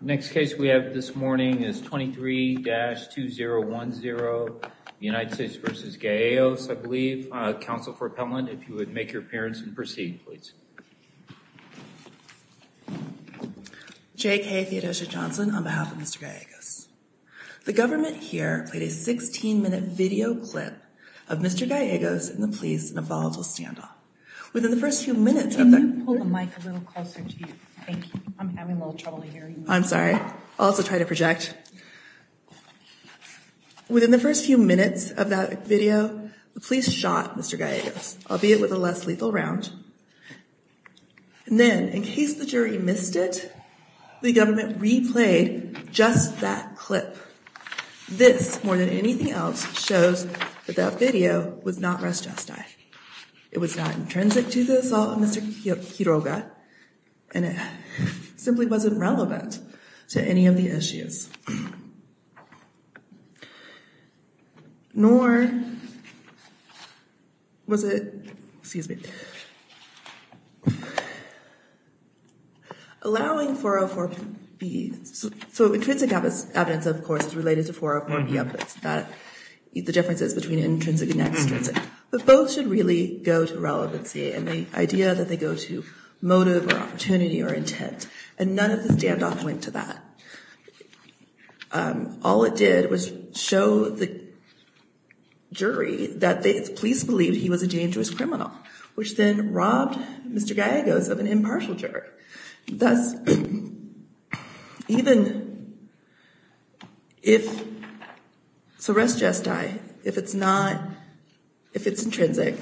Next case we have this morning is 23-2010, United States v. Gallegos, I believe. Counsel for Appellant, if you would make your appearance and proceed, please. J.K. Theodosia Johnson on behalf of Mr. Gallegos. The government here played a 16-minute video clip of Mr. Gallegos and the police in a volatile standoff. Within the first few minutes of that video, the police shot Mr. Gallegos, albeit with a less lethal round. And then, in case the jury missed it, the government replayed just that clip. This, more than anything else, shows that that video was not restressed. It was not intrinsic to the assault of Mr. Quiroga, and it simply wasn't relevant to any of the issues. Nor was it, excuse me, allowing 404B, so intrinsic evidence, of course, is related to 404B, the differences between intrinsic and extrinsic, but both should really go to relevancy and the idea that they go to motive or opportunity or intent. And none of the standoff went to that. All it did was show the jury that the police believed he was a dangerous criminal, which then robbed Mr. Gallegos of an impartial jury. Thus, even if it's a res gestae, if it's not, if it's intrinsic,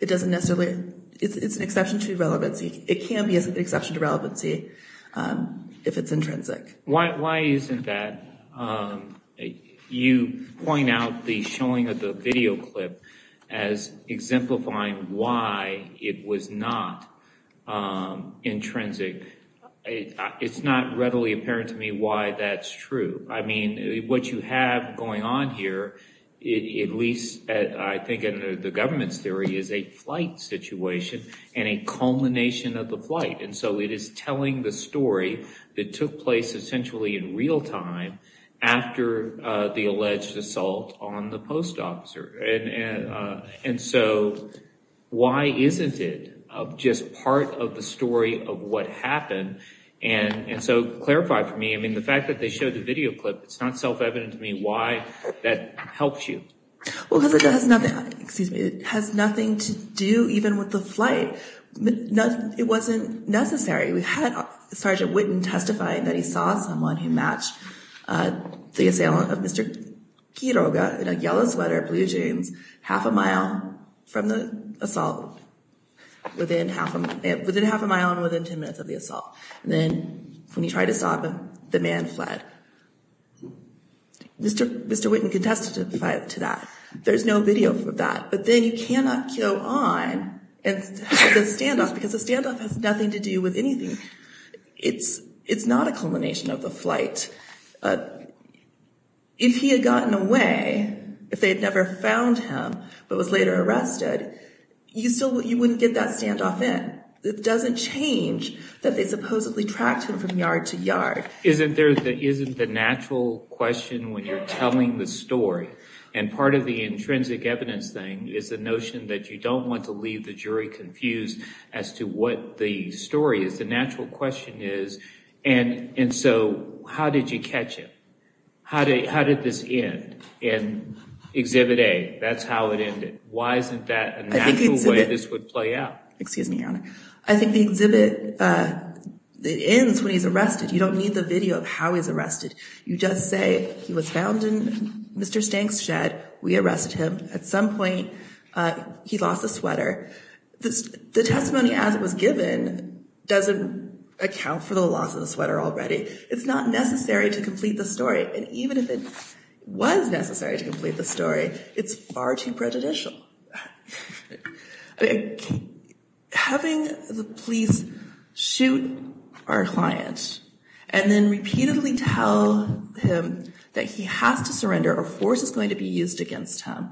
it doesn't necessarily, it's an exception to relevancy. It can be an exception to relevancy if it's intrinsic. Why isn't that? You point out the showing of the video clip as exemplifying why it was not intrinsic. It's not readily apparent to me why that's true. I mean, what you have going on here, at least I think in the government's theory, is a flight situation and a culmination of the flight. And so it is telling the story that took place essentially in real time after the alleged assault on the post officer. And so why isn't it just part of the story of what happened? And so clarify for me, I mean, the fact that they showed the video clip, it's not self-evident to me why that helps you. It has nothing to do even with the flight. It wasn't necessary. We had Sergeant Witten testifying that he saw someone who matched the assailant of Mr. Quiroga in a yellow sweater, blue jeans, half a mile from the assault, within half a mile and within 10 minutes of the assault. And then when he tried to stop him, the man fled. Mr. Witten contested to that. There's no video for that. But then you cannot go on and have the standoff, because the standoff has nothing to do with anything. It's not a culmination of the flight. If he had gotten away, if they had never found him but was later arrested, you still wouldn't get that standoff in. It doesn't change that they supposedly tracked him from yard to yard. Isn't there, isn't the natural question when you're telling the story, and part of the question is the notion that you don't want to leave the jury confused as to what the story is. The natural question is, and so how did you catch him? How did this end? And exhibit A, that's how it ended. Why isn't that a natural way this would play out? Excuse me, Your Honor. I think the exhibit, it ends when he's arrested. You don't need the video of how he's arrested. You just say he was found in Mr. Stank's shed. We arrested him. At some point, he lost a sweater. The testimony as it was given doesn't account for the loss of the sweater already. It's not necessary to complete the story. And even if it was necessary to complete the story, it's far too prejudicial. Having the police shoot our client and then repeatedly tell him that he has to surrender or force is going to be used against him.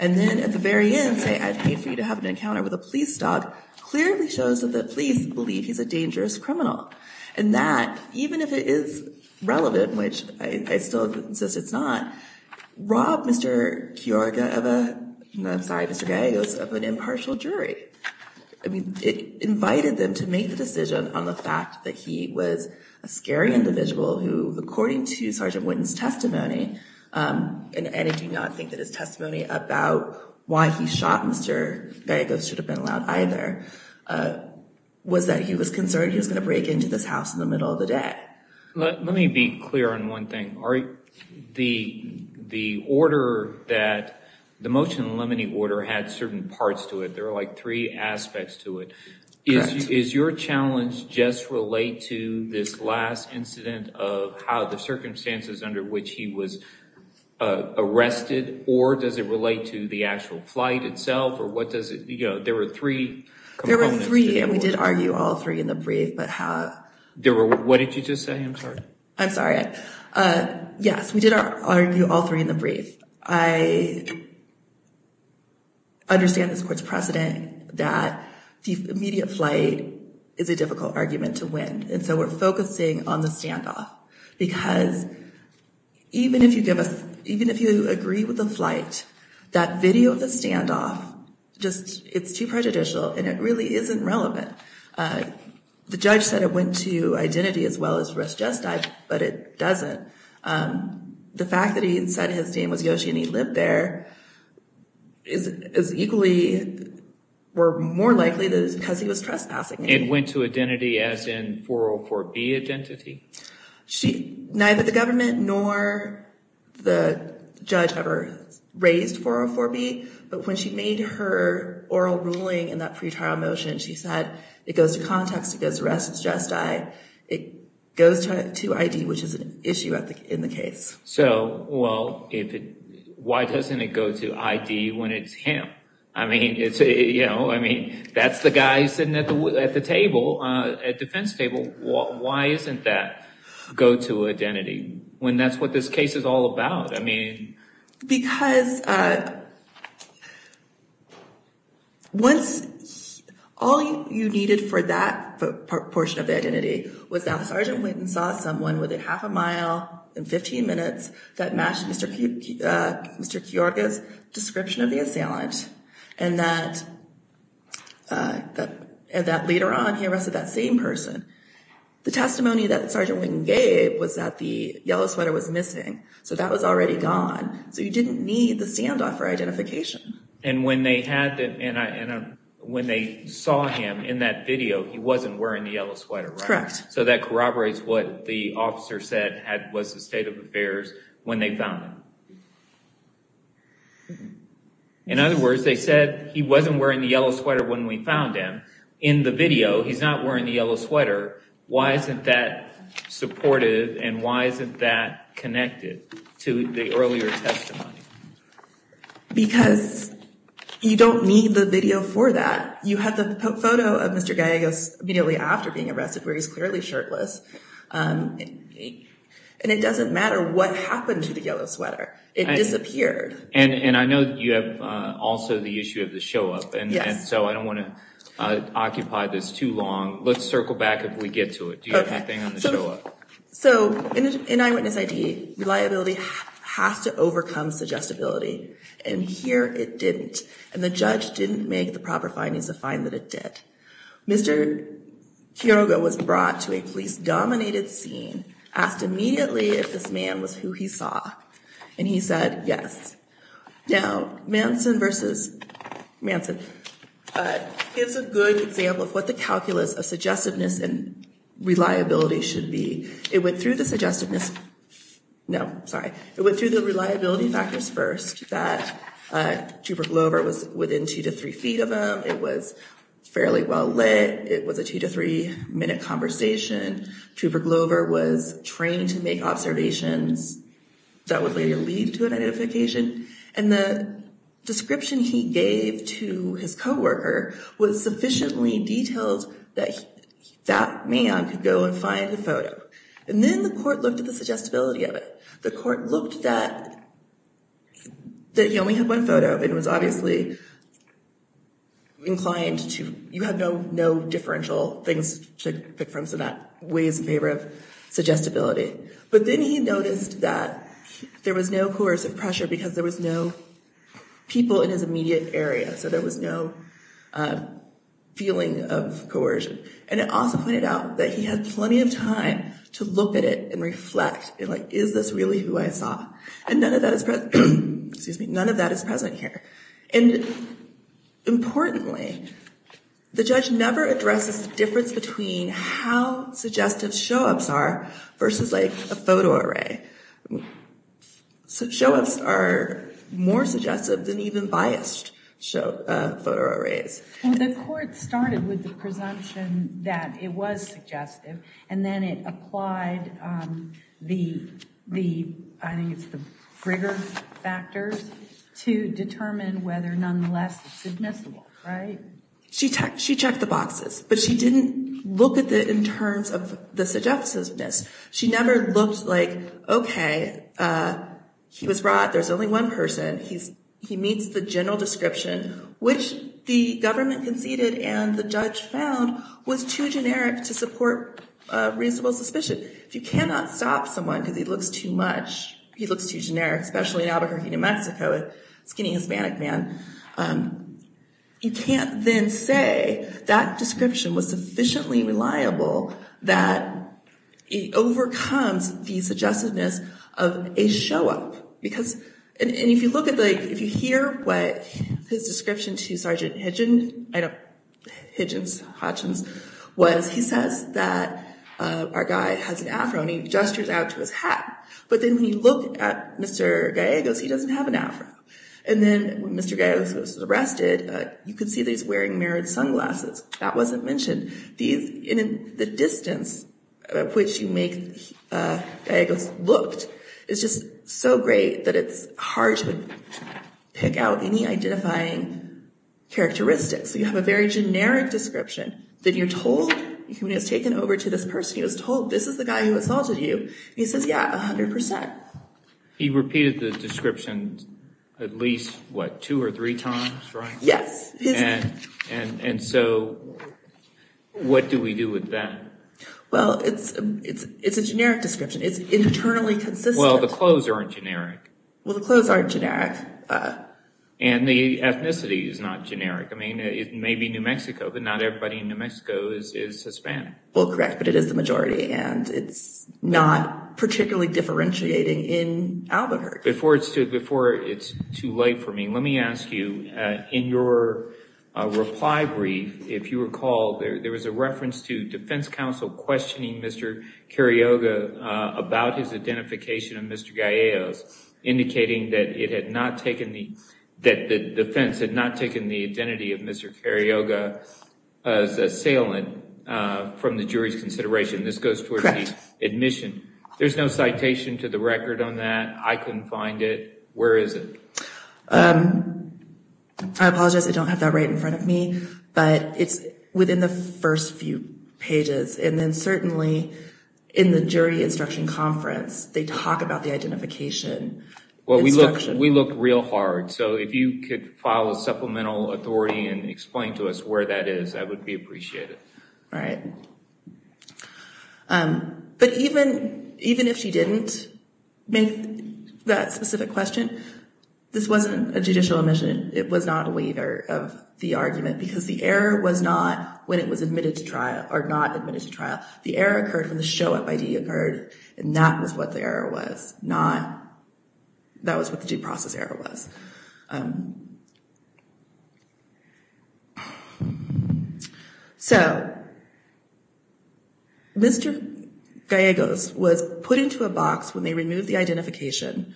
And then at the very end, say, I paid for you to have an encounter with a police dog, clearly shows that the police believe he's a dangerous criminal. And that even if it is relevant, which I still insist it's not, robbed Mr. Kyorga of a, I'm sorry, Mr. Gallegos, of an impartial jury. I mean, it invited them to make the decision on the fact that he was a scary individual who, according to Sergeant Whitten's testimony, and I do not think that his testimony about why he shot Mr. Gallegos should have been allowed either, was that he was concerned he was going to break into this house in the middle of the day. Let me be clear on one thing. The order that, the motion to eliminate order had certain parts to it. There were like three aspects to it. Correct. Is your challenge just relate to this last incident of how the circumstances under which he was arrested or does it relate to the actual flight itself or what does it, you know, there were three components. There were three and we did argue all three in the brief, but how. There were, what did you just say? I'm sorry. I'm sorry. Yes, we did argue all three in the brief. I understand this court's precedent that the immediate flight is a difficult argument to win. And so we're focusing on the standoff because even if you give us, even if you agree with the flight, that video of the standoff just, it's too prejudicial and it really isn't relevant. The judge said it went to identity as well as rest justice, but it doesn't. The fact that he said his name was Yoshi and he lived there is equally, or more likely because he was trespassing. It went to identity as in 404B identity? Neither the government nor the judge ever raised 404B, but when she made her oral ruling in that pretrial motion, she said it goes to context, it goes to rest justice, it goes to ID, which is an issue in the case. So, well, why doesn't it go to ID when it's him? I mean, that's the guy sitting at the table, at defense table. Why isn't that go to identity when that's what this case is all about? Because once, all you needed for that portion of the identity was that Sergeant Wynton saw someone within half a mile and 15 minutes that matched Mr. Kiorga's description of the assailant and that later on he arrested that same person. The testimony that Sergeant Wynton gave was that the yellow sweater was missing, so that was already gone, so you didn't need the standoff for identification. And when they saw him in that video, he wasn't wearing the yellow sweater, right? Correct. So that corroborates what the officer said was the state of affairs when they found him. In other words, they said he wasn't wearing the yellow sweater when we found him. In the video, he's not wearing the yellow sweater. Why isn't that supportive and why isn't that connected to the earlier testimony? Because you don't need the video for that. You have the photo of Mr. Kiorga immediately after being arrested where he's clearly shirtless. And it doesn't matter what happened to the yellow sweater. It disappeared. And I know you have also the issue of the show up. Yes. And so I don't want to occupy this too long. Let's circle back if we get to it. Do you have anything on the show up? So in eyewitness ID, reliability has to overcome suggestibility. And here it didn't. And the judge didn't make the proper findings to find that it did. Mr. Kiorga was brought to a police-dominated scene, asked immediately if this man was who he saw. And he said yes. Now, Manson versus Manson gives a good example of what the calculus of suggestiveness and reliability should be. It went through the suggestiveness. No, sorry. It went through the reliability factors first that Trooper Glover was within two to three feet of him. It was fairly well lit. It was a two to three-minute conversation. Trooper Glover was trained to make observations that would later lead to an identification. And the description he gave to his co-worker was sufficiently detailed that that man could go and find the photo. And then the court looked at the suggestibility of it. The court looked that he only had one photo and was obviously inclined to, you have no differential things to pick from, so that weighs in favor of suggestibility. But then he noticed that there was no coercive pressure because there was no people in his immediate area, so there was no feeling of coercion. And it also pointed out that he had plenty of time to look at it and reflect and, like, is this really who I saw? And none of that is present here. And importantly, the judge never addresses the difference between how suggestive show-ups are versus, like, a photo array. Show-ups are more suggestive than even biased photo arrays. Well, the court started with the presumption that it was suggestive, and then it applied the, I think it's the Brigger factors, to determine whether, nonetheless, it's admissible, right? She checked the boxes, but she didn't look at it in terms of the suggestiveness. She never looked like, okay, he was wrought, there's only one person, he meets the general description, which the government conceded and the judge found was too generic to support reasonable suspicion. If you cannot stop someone because he looks too much, he looks too generic, especially in Albuquerque, New Mexico, a skinny Hispanic man, you can't then say that description was sufficiently reliable that it overcomes the suggestiveness of a show-up. And if you look at the, if you hear what his description to Sergeant Hitchens was, he says that our guy has an afro and he gestures out to his hat. But then when you look at Mr. Gallegos, he doesn't have an afro. And then when Mr. Gallegos was arrested, you could see that he's wearing mirrored sunglasses. That wasn't mentioned. The distance at which you make Gallegos looked is just so great that it's hard to pick out any identifying characteristics. You have a very generic description that you're told, when he was taken over to this person, he was told this is the guy who assaulted you. He says, yeah, 100%. He repeated the description at least, what, two or three times, right? Yes. And so what do we do with that? Well, it's a generic description. It's internally consistent. Well, the clothes aren't generic. Well, the clothes aren't generic. And the ethnicity is not generic. I mean, it may be New Mexico, but not everybody in New Mexico is Hispanic. Well, correct, but it is the majority. And it's not particularly differentiating in Albuquerque. Before it's too late for me, let me ask you, in your reply brief, if you recall, there was a reference to defense counsel questioning Mr. Carioga about his identification of Mr. Gallegos, indicating that the defense had not taken the identity of Mr. Carioga as assailant from the jury's consideration. This goes toward the admission. There's no citation to the record on that. I couldn't find it. Where is it? I apologize. I don't have that right in front of me. But it's within the first few pages. And then certainly in the jury instruction conference, they talk about the identification. Well, we look real hard. So if you could file a supplemental authority and explain to us where that is, I would be appreciative. All right. But even if she didn't make that specific question, this wasn't a judicial admission. It was not a waiver of the argument because the error was not when it was admitted to trial or not admitted to trial. The error occurred when the show-up ID occurred. And that was what the error was, not that was what the due process error was. So Mr. Carioga was put into a box when they removed the identification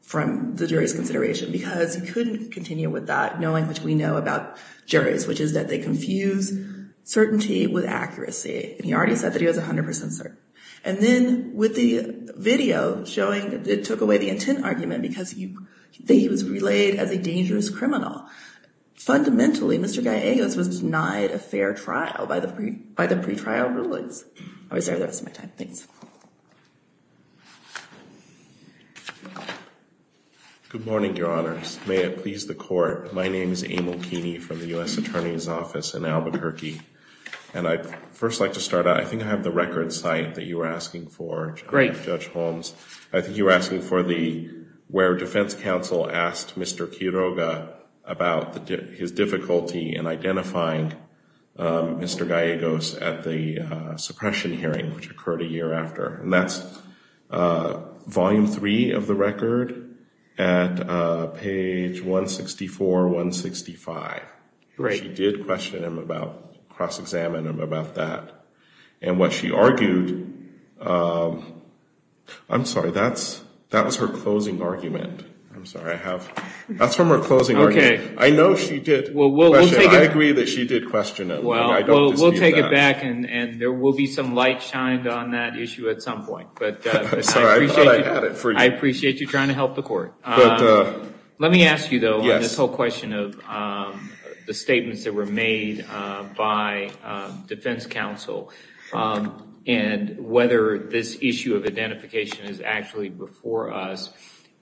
from the jury's consideration because he couldn't continue with that, knowing which we know about juries, which is that they confuse certainty with accuracy. And he already said that he was 100 percent certain. And then with the video showing, it took away the intent argument because you think he was really sure. So he was relayed as a dangerous criminal. Fundamentally, Mr. Gallegos was denied a fair trial by the pretrial rulings. I'll reserve the rest of my time. Thanks. Good morning, Your Honors. May it please the Court. My name is Emil Keeney from the U.S. Attorney's Office in Albuquerque. And I'd first like to start out. I think I have the record cite that you were asking for. Great. Judge Holmes. I think you were asking for the where defense counsel asked Mr. Carioga about his difficulty in identifying Mr. Gallegos at the suppression hearing, which occurred a year after. And that's volume three of the record at page 164, 165. She did question him about cross-examine him about that. And what she argued, I'm sorry, that was her closing argument. I'm sorry. That's from her closing argument. Okay. I know she did question him. I agree that she did question him. Well, we'll take it back, and there will be some light shined on that issue at some point. I'm sorry. I thought I had it for you. I appreciate you trying to help the Court. Let me ask you, though, on this whole question of the statements that were made by defense counsel, and whether this issue of identification is actually before us.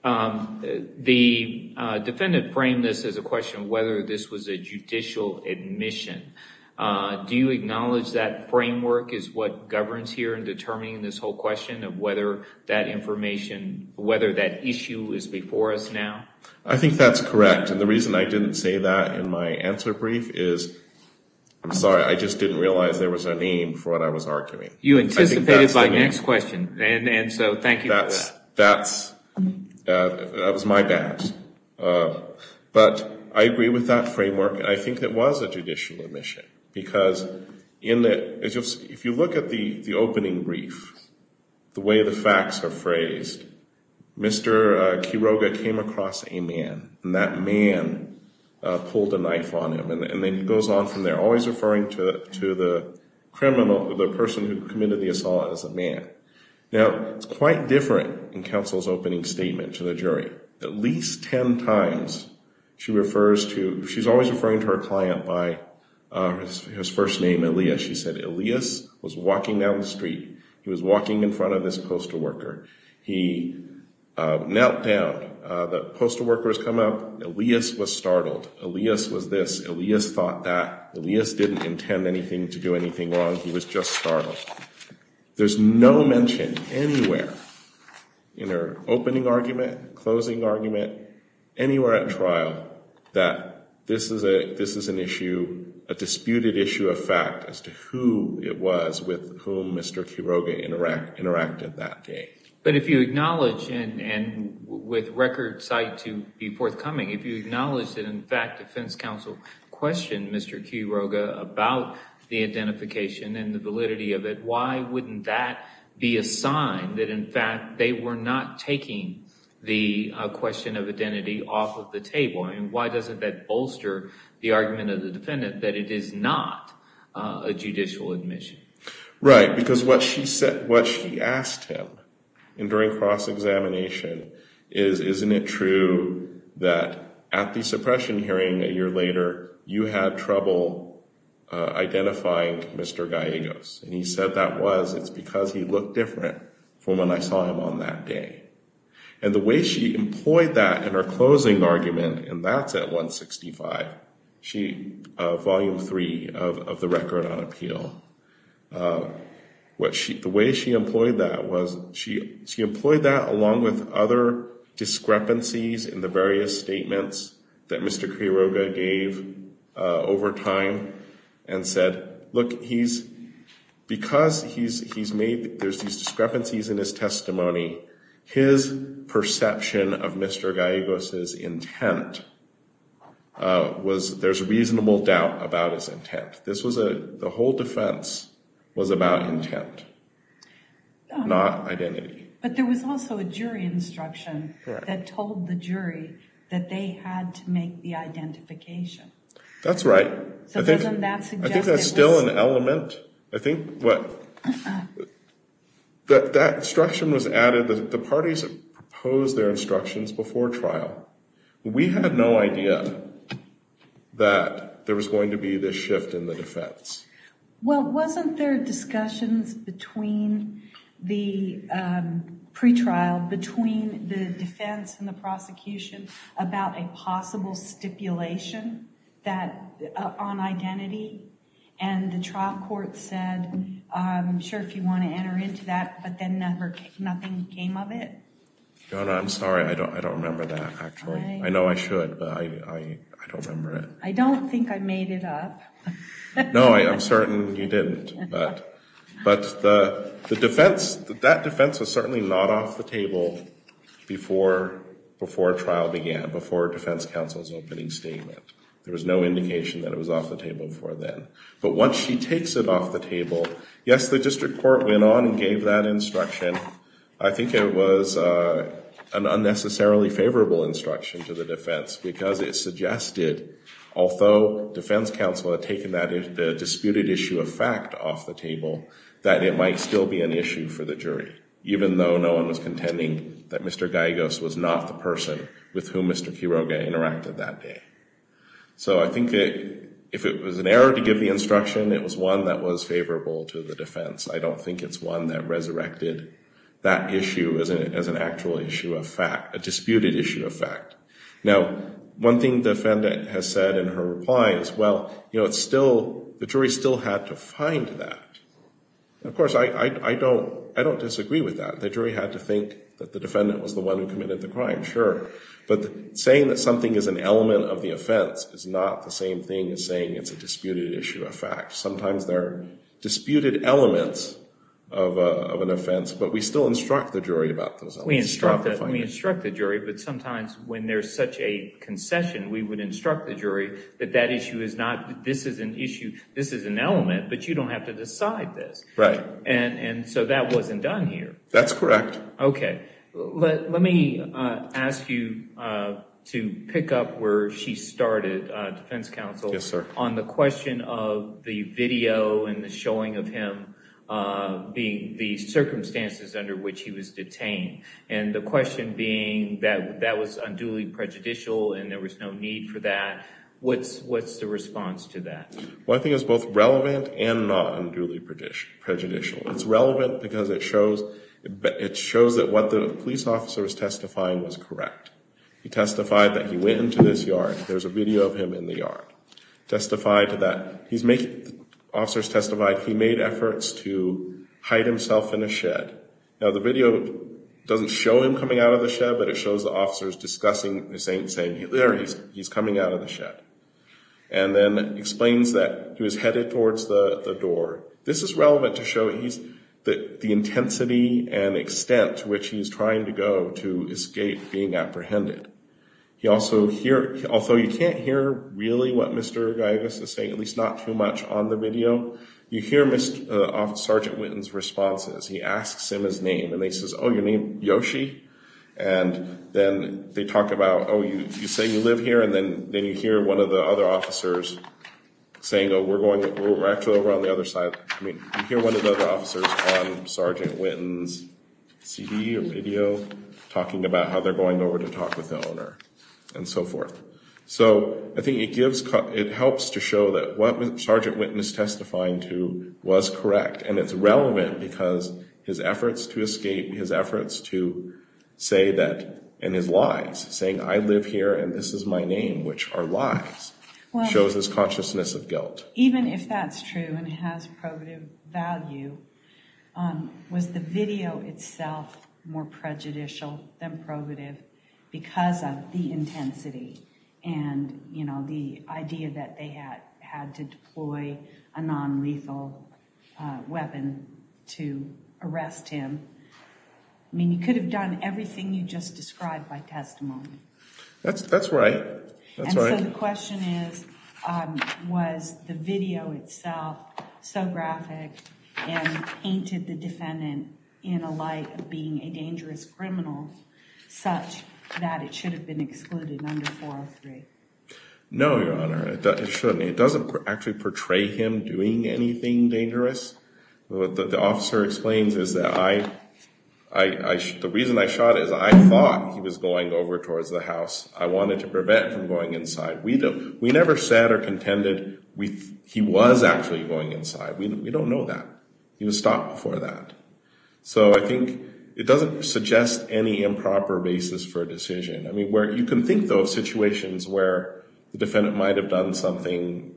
The defendant framed this as a question of whether this was a judicial admission. Do you acknowledge that framework is what governs here in determining this whole question of whether that information, whether that issue is before us now? I think that's correct. And the reason I didn't say that in my answer brief is, I'm sorry, I just didn't realize there was a name for what I was arguing. You anticipated my next question, and so thank you for that. That was my bad. But I agree with that framework. I think it was a judicial admission, because if you look at the opening brief, the way the facts are phrased, Mr. Quiroga came across a man, and that man pulled a knife on him. And it goes on from there, always referring to the person who committed the assault as a man. Now, it's quite different in counsel's opening statement to the jury. At least ten times she refers to, she's always referring to her client by his first name, Elias. She said Elias was walking down the street. He was walking in front of this postal worker. He knelt down. The postal worker has come up. Elias was startled. Elias was this. Elias thought that. Elias didn't intend anything to do anything wrong. He was just startled. There's no mention anywhere in her opening argument, closing argument, anywhere at trial, that this is an issue, a disputed issue of fact as to who it was with whom Mr. Quiroga interacted that day. But if you acknowledge, and with record sight to be forthcoming, if you acknowledge that, in fact, defense counsel questioned Mr. Quiroga about the identification and the validity of it, why wouldn't that be a sign that, in fact, they were not taking the question of identity off of the table? And why doesn't that bolster the argument of the defendant that it is not a judicial admission? Right, because what she asked him during cross-examination is, isn't it true that at the suppression hearing a year later you had trouble identifying Mr. Gallegos? And he said that was it's because he looked different from when I saw him on that day. And the way she employed that in her closing argument, and that's at 165, Volume 3 of the Record on Appeal. The way she employed that was she employed that along with other discrepancies in the various statements that Mr. Quiroga gave over time and said, look, because there's these discrepancies in his testimony, his perception of Mr. Gallegos' intent was, there's reasonable doubt about his intent. This was a, the whole defense was about intent, not identity. But there was also a jury instruction that told the jury that they had to make the identification. That's right. So wasn't that suggestive? I think that's still an element. I think what, that instruction was added that the parties had proposed their instructions before trial. We had no idea that there was going to be this shift in the defense. Well, wasn't there discussions between the pretrial, between the defense and the prosecution, about a possible stipulation on identity? And the trial court said, I'm sure if you want to enter into that, but then nothing came of it? I'm sorry, I don't remember that, actually. I know I should, but I don't remember it. I don't think I made it up. No, I'm certain you didn't. But the defense, that defense was certainly not off the table before trial began, before defense counsel's opening statement. There was no indication that it was off the table before then. But once she takes it off the table, yes, the district court went on and gave that instruction. I think it was an unnecessarily favorable instruction to the defense, because it suggested, although defense counsel had taken the disputed issue of fact off the table, that it might still be an issue for the jury, even though no one was contending that Mr. Gallegos was not the person with whom Mr. Quiroga interacted that day. So I think if it was an error to give the instruction, it was one that was favorable to the defense. I don't think it's one that resurrected that issue as an actual issue of fact, a disputed issue of fact. Now, one thing the defendant has said in her reply is, well, the jury still had to find that. Of course, I don't disagree with that. The jury had to think that the defendant was the one who committed the crime, sure. But saying that something is an element of the offense is not the same thing as saying it's a disputed issue of fact. Sometimes there are disputed elements of an offense, but we still instruct the jury about those elements. We instruct the jury, but sometimes when there's such a concession, we would instruct the jury that that issue is not, this is an issue, this is an element, but you don't have to decide this. Right. And so that wasn't done here. That's correct. Okay. Let me ask you to pick up where she started, defense counsel. Yes, sir. On the question of the video and the showing of him, the circumstances under which he was detained, and the question being that that was unduly prejudicial and there was no need for that, what's the response to that? Well, I think it's both relevant and not unduly prejudicial. It's relevant because it shows that what the police officer was testifying was correct. He testified that he went into this yard. There's a video of him in the yard. Testified that he's making, officers testified he made efforts to hide himself in a shed. Now, the video doesn't show him coming out of the shed, but it shows the officers discussing, saying he's coming out of the shed. And then explains that he was headed towards the door. This is relevant to show the intensity and extent to which he's trying to go to escape being apprehended. He also, although you can't hear really what Mr. Giygas is saying, at least not too much on the video, you hear Sergeant Witten's responses. He asks him his name, and he says, oh, your name, Yoshi? And then they talk about, oh, you say you live here, and then you hear one of the other officers saying, oh, we're actually over on the other side. I mean, you hear one of the other officers on Sergeant Witten's CD or video, talking about how they're going over to talk with the owner and so forth. So I think it helps to show that what Sergeant Witten is testifying to was correct, and it's relevant because his efforts to escape, his efforts to say that in his lies, saying I live here and this is my name, which are lies, shows his consciousness of guilt. Even if that's true and has probative value, was the video itself more prejudicial than probative because of the intensity and the idea that they had to deploy a nonlethal weapon to arrest him? I mean, you could have done everything you just described by testimony. That's right. And so the question is, was the video itself so graphic and painted the defendant in a light of being a dangerous criminal such that it should have been excluded under 403? No, Your Honor, it shouldn't. It doesn't actually portray him doing anything dangerous. What the officer explains is that the reason I shot is I thought he was going over towards the house. I wanted to prevent him from going inside. We never said or contended he was actually going inside. We don't know that. He was stopped before that. So I think it doesn't suggest any improper basis for a decision. I mean, you can think, though, of situations where the defendant might have done something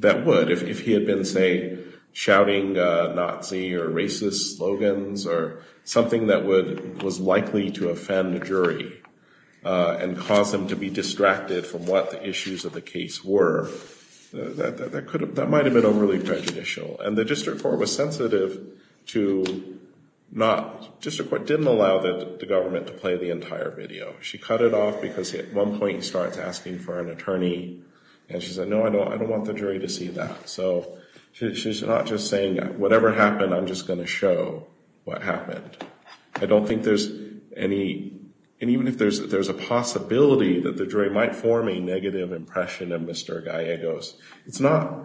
that would if he had been, say, shouting Nazi or racist slogans or something that was likely to offend a jury and cause him to be distracted from what the issues of the case were, that might have been overly prejudicial. And the district court was sensitive to not—the district court didn't allow the government to play the entire video. She cut it off because at one point he starts asking for an attorney, and she said, no, I don't want the jury to see that. So she's not just saying, whatever happened, I'm just going to show what happened. I don't think there's any—and even if there's a possibility that the jury might form a negative impression of Mr. Gallegos, it's not—the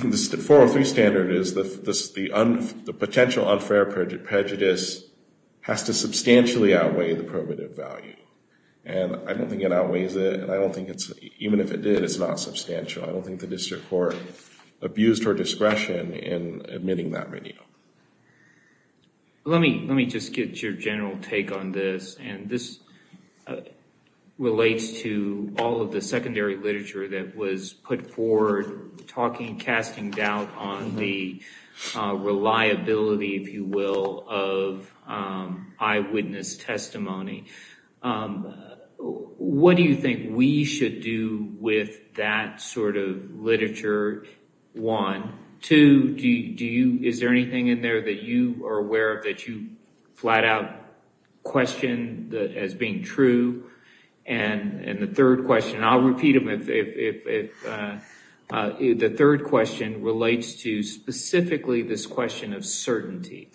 403 standard is the potential unfair prejudice has to substantially outweigh the prerogative value. And I don't think it outweighs it, and I don't think it's—even if it did, it's not substantial. I don't think the district court abused her discretion in admitting that video. Let me just get your general take on this, and this relates to all of the secondary literature that was put forward, talking—casting doubt on the reliability, if you will, of eyewitness testimony. What do you think we should do with that sort of literature, one? Two, do you—is there anything in there that you are aware of that you flat-out question as being true? And the third question, and I'll repeat them if—the third question relates to specifically this question of certainty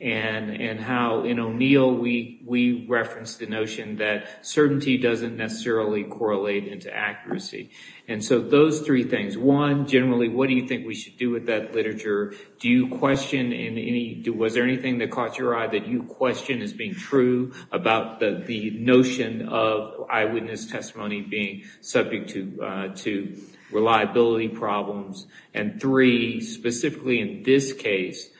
and how, in O'Neill, we referenced the notion that certainty doesn't necessarily correlate into accuracy. And so those three things, one, generally, what do you think we should do with that literature? Do you question in any—was there anything that caught your eye that you question as being true about the notion of eyewitness testimony being subject to reliability problems? And three, specifically in this case,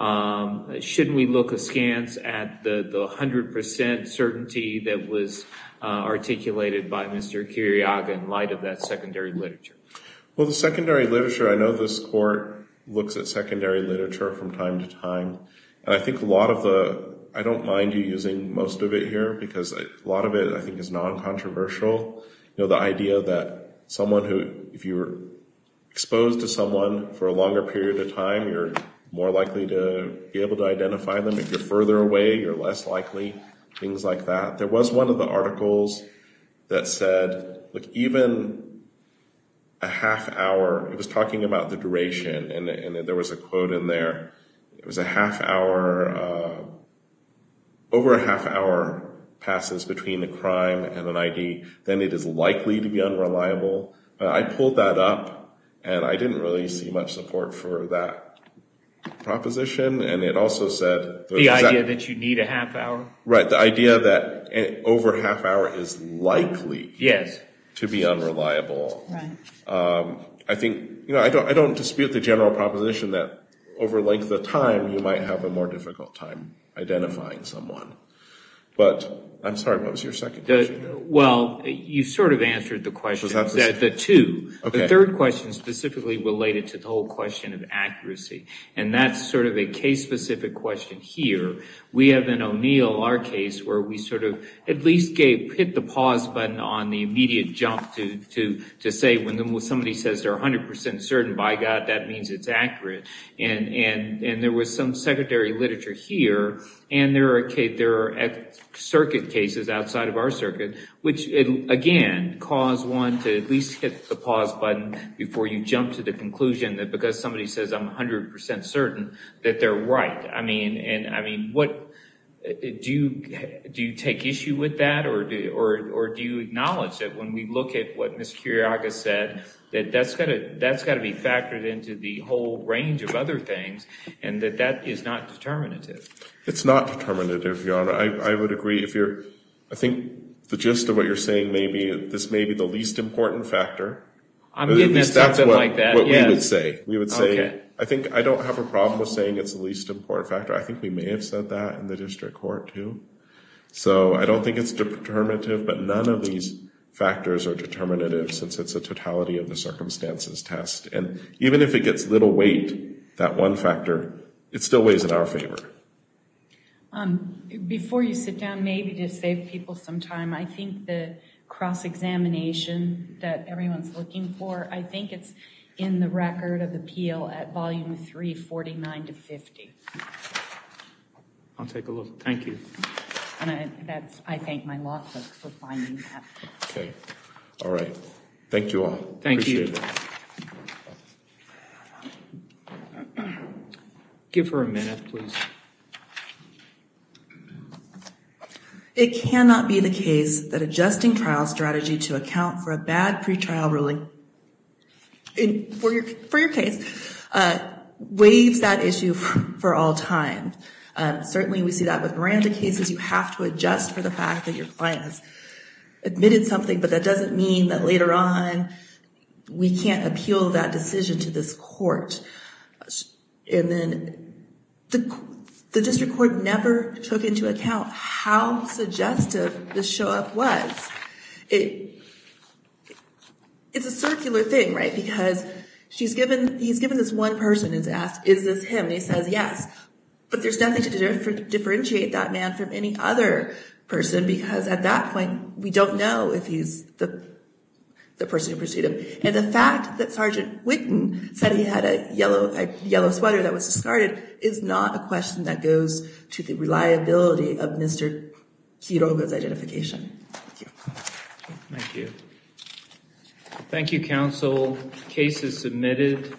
shouldn't we look askance at the 100 percent certainty that was articulated by Mr. Kiriaga in light of that secondary literature? Well, the secondary literature, I know this Court looks at secondary literature from time to time. And I think a lot of the—I don't mind you using most of it here because a lot of it, I think, is non-controversial. You know, the idea that someone who—if you're exposed to someone for a longer period of time, you're more likely to be able to identify them. If you're further away, you're less likely, things like that. There was one of the articles that said, look, even a half hour—it was talking about the duration. And there was a quote in there. It was a half hour—over a half hour passes between a crime and an ID. Then it is likely to be unreliable. I pulled that up, and I didn't really see much support for that proposition. And it also said— The idea that you need a half hour? Right, the idea that over a half hour is likely to be unreliable. I think—you know, I don't dispute the general proposition that over length of time, you might have a more difficult time identifying someone. But I'm sorry, what was your second question? Well, you sort of answered the question. The two. The third question specifically related to the whole question of accuracy. And that's sort of a case-specific question here. We have an O'Neill, our case, where we sort of at least hit the pause button on the immediate jump to say when somebody says they're 100% certain, by God, that means it's accurate. And there was some secretary literature here, and there are circuit cases outside of our circuit, which, again, cause one to at least hit the pause button before you jump to the conclusion that because somebody says I'm 100% certain that they're right. I mean, what—do you take issue with that? Or do you acknowledge that when we look at what Ms. Kyriakos said, that that's got to be factored into the whole range of other things and that that is not determinative? It's not determinative, Your Honor. I would agree if you're—I think the gist of what you're saying may be this may be the least important factor. I'm getting at something like that, yes. That's what we would say. I think I don't have a problem with saying it's the least important factor. I think we may have said that in the district court, too. So I don't think it's determinative, but none of these factors are determinative since it's a totality of the circumstances test. And even if it gets little weight, that one factor, it still weighs in our favor. Before you sit down, maybe to save people some time, I think the cross-examination that everyone's looking for, I think it's in the Record of Appeal at Volume 3, 49 to 50. I'll take a look. Thank you. And I thank my law folks for finding that. Okay. All right. Thank you all. Appreciate it. Thank you. Give her a minute, please. It cannot be the case that adjusting trial strategy to account for a bad pretrial ruling for your case waives that issue for all time. Certainly we see that with Miranda cases. You have to adjust for the fact that your client has admitted something, but that doesn't mean that later on we can't appeal that decision to this court. And then the district court never took into account how suggestive the show-up was. It's a circular thing, right, because he's given this one person and is asked, is this him? And he says yes, but there's nothing to differentiate that man from any other person because at that point we don't know if he's the person who pursued him. And the fact that Sergeant Whitten said he had a yellow sweater that was discarded is not a question that goes to the reliability of Mr. Quiroga's identification. Thank you. Thank you, counsel. Case is submitted.